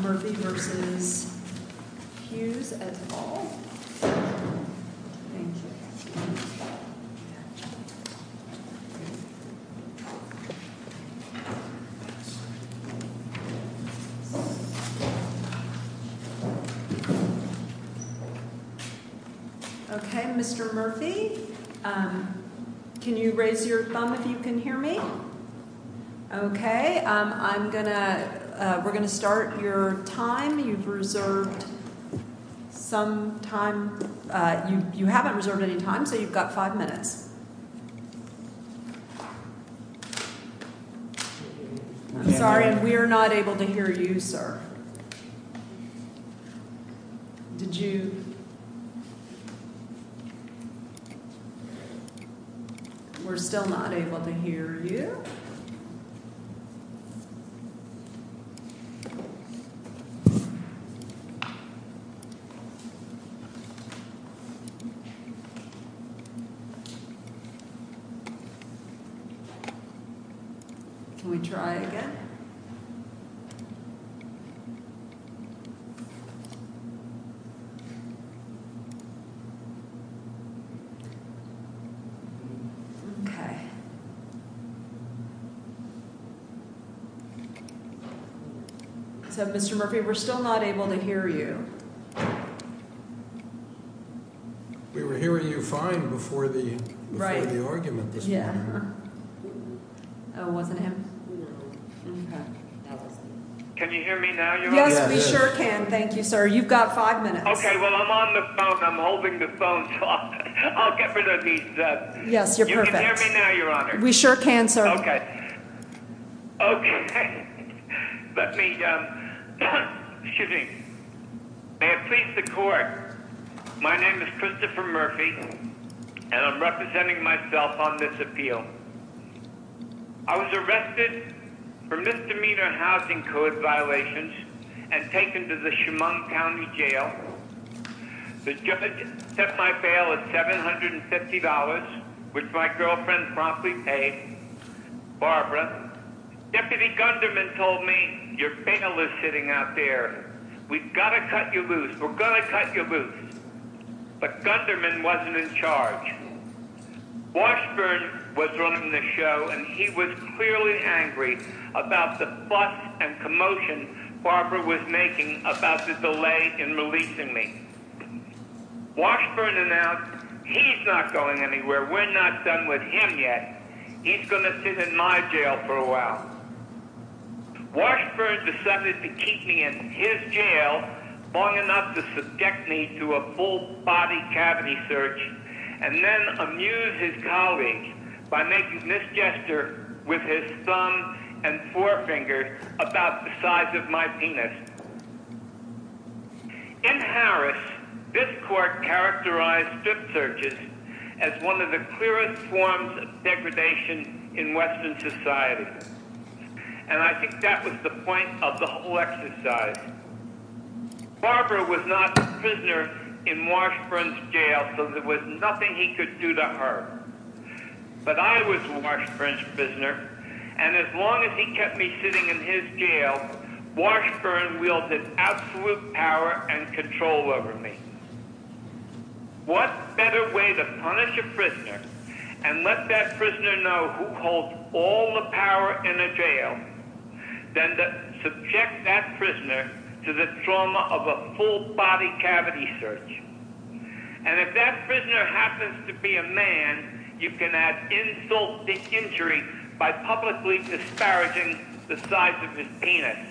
Murphy v. Hughes Okay Mr. Murphy, can you raise your thumb if you can hear me? Okay, I'm gonna we're gonna start your time you've reserved some time you haven't reserved any time so you've got five minutes. Sorry, we're not able to hear you, sir. Did you? We're still not able to hear you. Can we try again? Okay. So Mr. Murphy, we're still not able to hear you. We were hearing you fine before the right argument. Can you hear me now? Yes, we sure can. Thank you, sir. You've got five minutes. Okay, well, I'm on the phone. I'm holding the phone. I'll get rid of these. Yes, you're perfect now. You're on it. We sure can, sir. Okay. Okay, let me, excuse me. May it please the court. My name is Christopher Murphy, and I'm representing myself on this appeal. I was arrested for misdemeanor housing code violations and taken to the Chemung County Jail. The judge set my bail at $750, which my girlfriend promptly paid. Barbara, Deputy Gunderman told me your bail is sitting out there. We've got to cut you loose. We're going to cut you loose. Washburn was running the show, and he was clearly angry about the fuss and commotion Barbara was making about the delay in releasing me. Washburn announced he's not going anywhere. We're not done with him yet. He's going to sit in my jail for a while. Washburn decided to keep me in his jail long enough to subject me to a full-body cavity search, and then amuse his colleagues by making misgesture with his thumb and forefinger about the size of my penis. In Harris, this court characterized strip searches as one of the clearest forms of degradation in Western society. And I think that was the point of the whole exercise. Barbara was not a prisoner in Washburn's jail, so there was nothing he could do to her. But I was Washburn's prisoner, and as long as he kept me sitting in his jail, Washburn wielded absolute power and control over me. What better way to punish a prisoner and let that prisoner know who holds all the power in a jail than to subject that prisoner to the trauma of a full-body cavity search? And if that prisoner happens to be a man, you can insult the injury by publicly disparaging the size of his penis.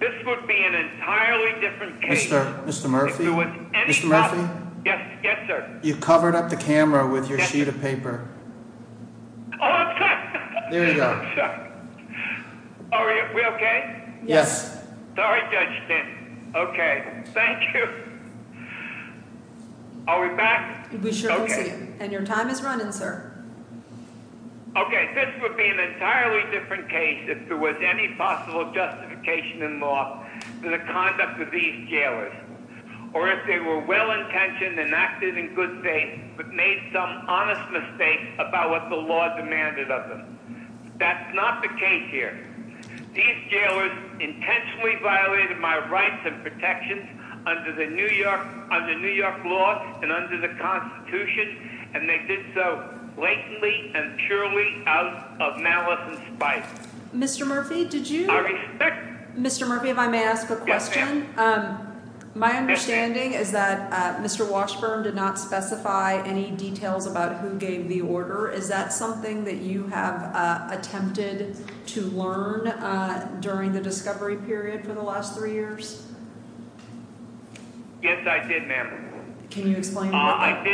This would be an entirely different case. Mr. Murphy? Yes, sir. You covered up the camera with your sheet of paper. Oh, I'm sorry. There you go. I'm sorry. Are we okay? Yes. Sorry, Judge Stanton. Okay, thank you. Are we back? We sure hope so. And your time is running, sir. Okay, this would be an entirely different case if there was any possible justification in law for the conduct of these jailers, or if they were well-intentioned and acted in good faith but made some honest mistake about what the law demanded of them. That's not the case here. These jailers intentionally violated my rights and protections under New York law and under the Constitution, and they did so blatantly and purely out of malice and spite. I respect that. Mr. Murphy, if I may ask a question. Yes, ma'am. My understanding is that Mr. Washburn did not specify any details about who gave the order. Is that something that you have attempted to learn during the discovery period for the last three years? Yes, I did, ma'am. Can you explain what that was?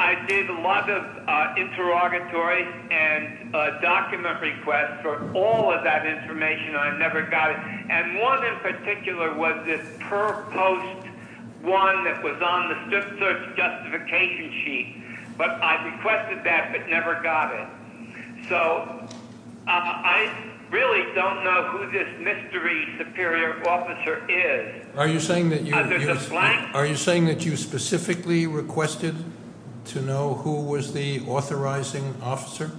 I did. I did a lot of interrogatory and document requests for all of that information, and I never got it. And one in particular was this per post one that was on the strip search justification sheet. But I requested that but never got it. So I really don't know who this mystery superior officer is. Are you saying that you specifically requested to know who was the authorizing officer?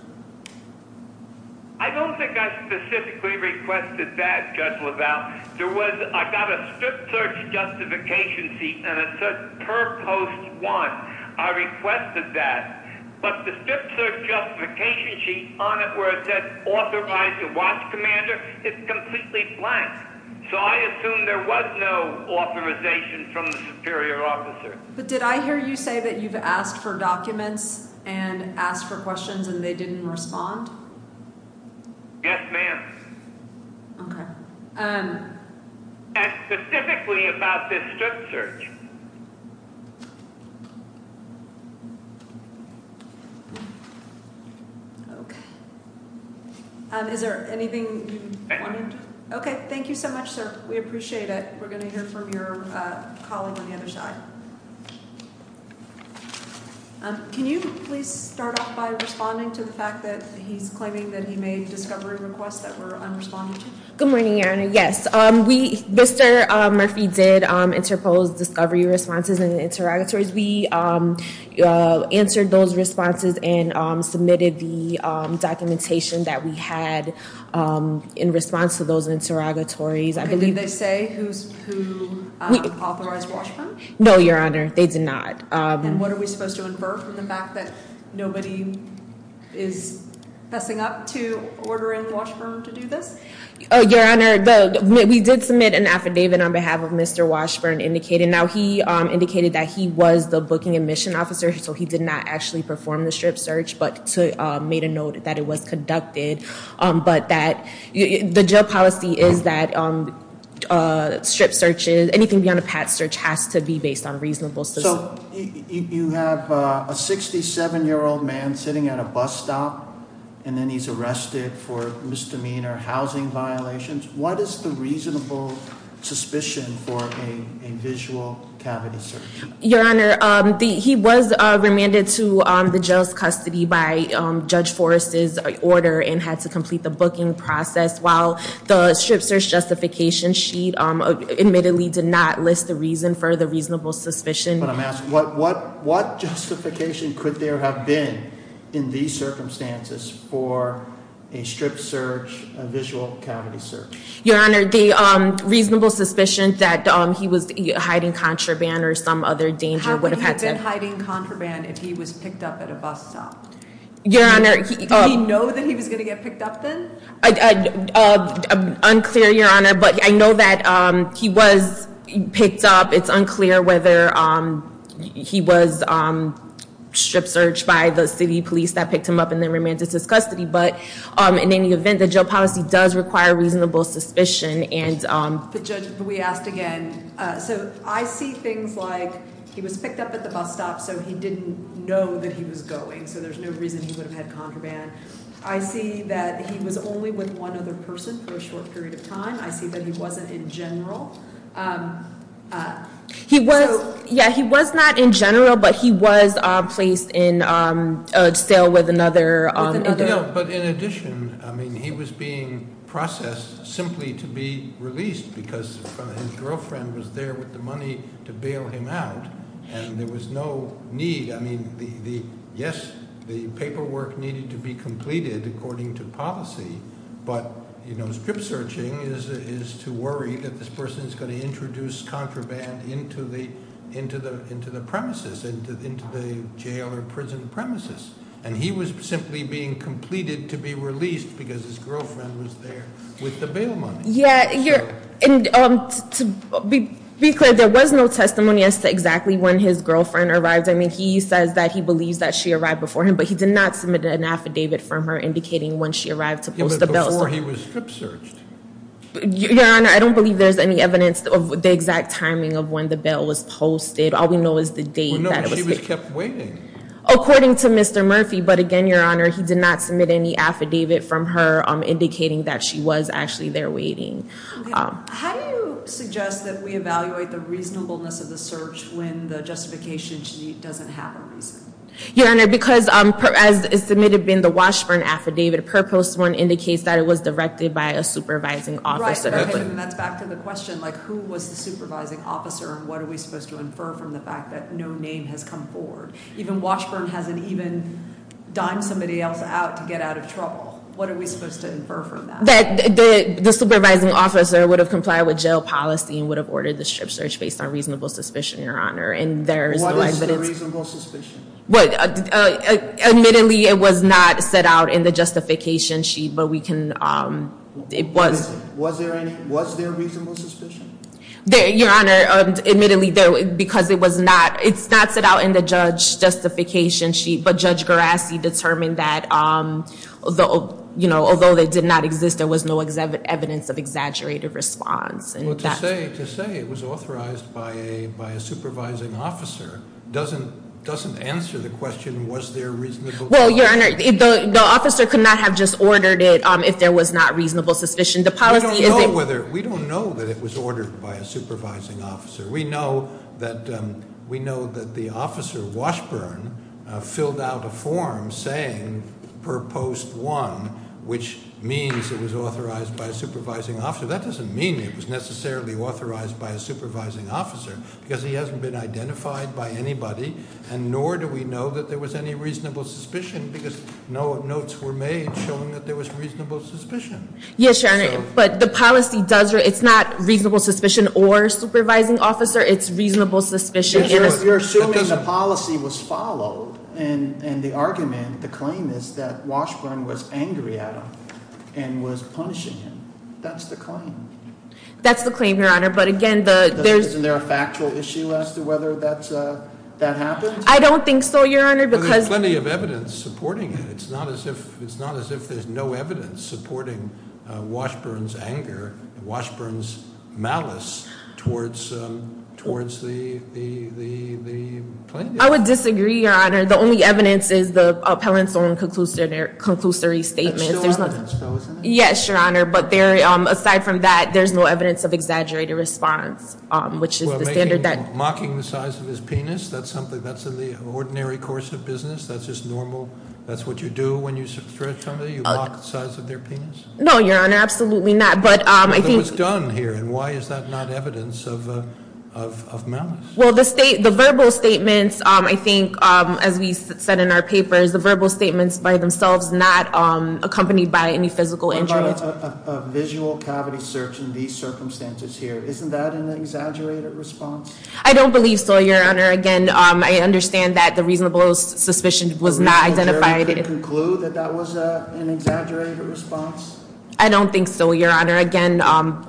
I don't think I specifically requested that, Judge LaValle. I got a strip search justification sheet and a per post one. I requested that. But the strip search justification sheet on it where it says authorized to watch commander is completely blank. So I assume there was no authorization from the superior officer. But did I hear you say that you've asked for documents and asked for questions and they didn't respond? Yes, ma'am. Okay. And specifically about this strip search. Okay. Is there anything you wanted? Okay. Thank you so much, sir. We appreciate it. We're going to hear from your colleague on the other side. Can you please start off by responding to the fact that he's claiming that he made discovery requests that were unresponded to? Good morning, Your Honor. Yes. Mr. Murphy did interpose discovery responses and interrogatories. We answered those responses and submitted the documentation that we had in response to those interrogatories. Did they say who authorized Washburn? No, Your Honor. They did not. And what are we supposed to infer from the fact that nobody is fessing up to ordering Washburn to do this? Your Honor, we did submit an affidavit on behalf of Mr. Washburn. Now, he indicated that he was the booking and mission officer, so he did not actually perform the strip search, but made a note that it was conducted. But the jail policy is that strip searches, anything beyond a pat search, has to be based on reasonable- So you have a 67-year-old man sitting at a bus stop, and then he's arrested for misdemeanor housing violations. What is the reasonable suspicion for a visual cavity search? Your Honor, he was remanded to the jail's custody by Judge Forrest's order and had to complete the booking process while the strip search justification sheet admittedly did not list the reason for the reasonable suspicion. But I'm asking, what justification could there have been in these circumstances for a strip search, a visual cavity search? Your Honor, the reasonable suspicion that he was hiding contraband or some other danger would have had to- How could he have been hiding contraband if he was picked up at a bus stop? Your Honor- Did he know that he was going to get picked up then? Unclear, Your Honor, but I know that he was picked up. It's unclear whether he was strip searched by the city police that picked him up and then remanded to his custody. But in any event, the jail policy does require reasonable suspicion and- But Judge, we asked again. So I see things like he was picked up at the bus stop, so he didn't know that he was going, so there's no reason he would have had contraband. I see that he was only with one other person for a short period of time. I see that he wasn't in general. He was- Yeah, he was not in general, but he was placed in a cell with another- No, but in addition, I mean, he was being processed simply to be released because his girlfriend was there with the money to bail him out, and there was no need. I mean, yes, the paperwork needed to be completed according to policy, but strip searching is to worry that this person is going to introduce contraband into the premises, into the jail or prison premises. And he was simply being completed to be released because his girlfriend was there with the bail money. Yeah, and to be clear, there was no testimony as to exactly when his girlfriend arrived. I mean, he says that he believes that she arrived before him, but he did not submit an affidavit from her indicating when she arrived to post the bail. Yeah, but before he was strip searched. Your Honor, I don't believe there's any evidence of the exact timing of when the bail was posted. All we know is the date that- Well, no, he was kept waiting. According to Mr. Murphy, but again, Your Honor, he did not submit any affidavit from her indicating that she was actually there waiting. How do you suggest that we evaluate the reasonableness of the search when the justification she doesn't have a reason? Your Honor, because as submitted in the Washburn Affidavit, Purpose 1 indicates that it was directed by a supervising officer. That's back to the question, who was the supervising officer and what are we supposed to infer from the fact that no name has come forward? Even Washburn hasn't even dimed somebody else out to get out of trouble. What are we supposed to infer from that? The supervising officer would have complied with jail policy and would have ordered the strip search based on reasonable suspicion, Your Honor. What is the reasonable suspicion? Admittedly, it was not set out in the justification sheet, but we can- Was there reasonable suspicion? Your Honor, admittedly, because it's not set out in the judge justification sheet, but Judge Gerasi determined that although they did not exist, there was no evidence of exaggerated response. Well, to say it was authorized by a supervising officer doesn't answer the question, was there reasonable suspicion? Well, Your Honor, the officer could not have just ordered it if there was not reasonable suspicion. The policy is- We don't know whether, we don't know that it was ordered by a supervising officer. We know that the officer, Washburn, filled out a form saying, Purpose 1, which means it was authorized by a supervising officer. That doesn't mean it was necessarily authorized by a supervising officer, because he hasn't been identified by anybody, and nor do we know that there was any reasonable suspicion, because no notes were made showing that there was reasonable suspicion. Yes, Your Honor, but the policy does, it's not reasonable suspicion or supervising officer. It's reasonable suspicion in a- You're assuming the policy was followed, and the argument, the claim is that Washburn was angry at him and was punishing him. That's the claim. That's the claim, Your Honor, but again, the- I don't think so, Your Honor, because- Well, there's plenty of evidence supporting it. It's not as if there's no evidence supporting Washburn's anger, Washburn's malice, towards the claim. I would disagree, Your Honor. The only evidence is the appellant's own conclusory statements. There's still evidence, though, isn't there? Yes, Your Honor, but aside from that, there's no evidence of exaggerated response, which is the standard that- That's in the ordinary course of business? That's just normal? That's what you do when you substrate somebody? You block the size of their penis? No, Your Honor, absolutely not, but I think- But it was done here, and why is that not evidence of malice? Well, the verbal statements, I think, as we said in our papers, the verbal statements by themselves, not accompanied by any physical injury. What about a visual cavity search in these circumstances here? Isn't that an exaggerated response? I don't believe so, Your Honor. Again, I understand that the reasonable suspicion was not identified- The reasonable jury could conclude that that was an exaggerated response? I don't think so, Your Honor. Again,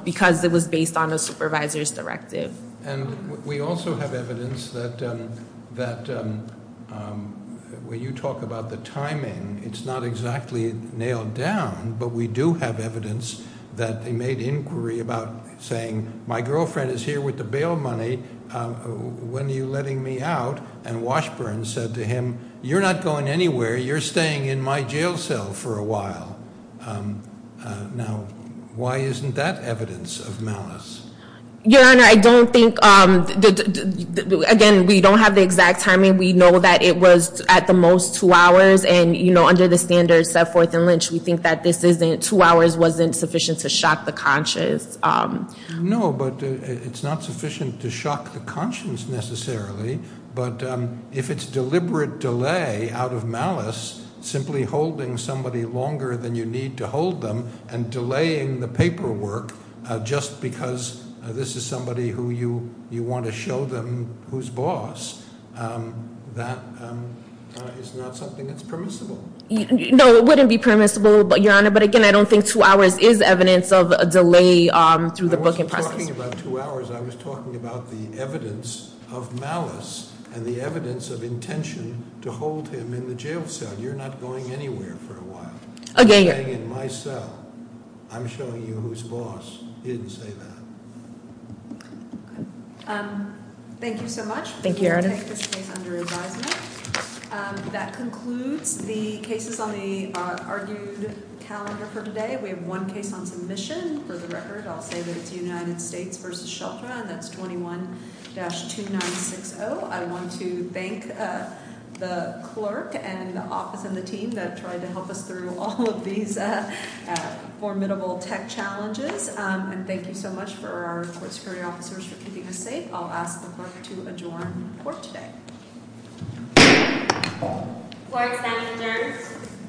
because it was based on a supervisor's directive. And we also have evidence that when you talk about the timing, it's not exactly nailed down, but we do have evidence that they made inquiry about saying, my girlfriend is here with the bail money, when are you letting me out? And Washburn said to him, you're not going anywhere. You're staying in my jail cell for a while. Now, why isn't that evidence of malice? Your Honor, I don't think- Again, we don't have the exact timing. We know that it was, at the most, two hours. And under the standards set forth in Lynch, we think that two hours wasn't sufficient to shock the conscience. No, but it's not sufficient to shock the conscience necessarily. But if it's deliberate delay out of malice, simply holding somebody longer than you need to hold them and delaying the paperwork just because this is somebody who you want to show them who's boss, that is not something that's permissible. No, it wouldn't be permissible, Your Honor. But again, I don't think two hours is evidence of a delay through the booking process. I wasn't talking about two hours. I was talking about the evidence of malice and the evidence of intention to hold him in the jail cell. You're not going anywhere for a while. Again- You're staying in my cell. I'm showing you who's boss. He didn't say that. Thank you so much. Thank you, Your Honor. We will take this case under advisement. That concludes the cases on the argued calendar for today. We have one case on submission. For the record, I'll say that it's United States v. Sheltra, and that's 21-2960. I want to thank the clerk and the office and the team that tried to help us through all of these formidable tech challenges. And thank you so much for our court security officers for keeping us safe. I'll ask the clerk to adjourn for today. Court is now adjourned.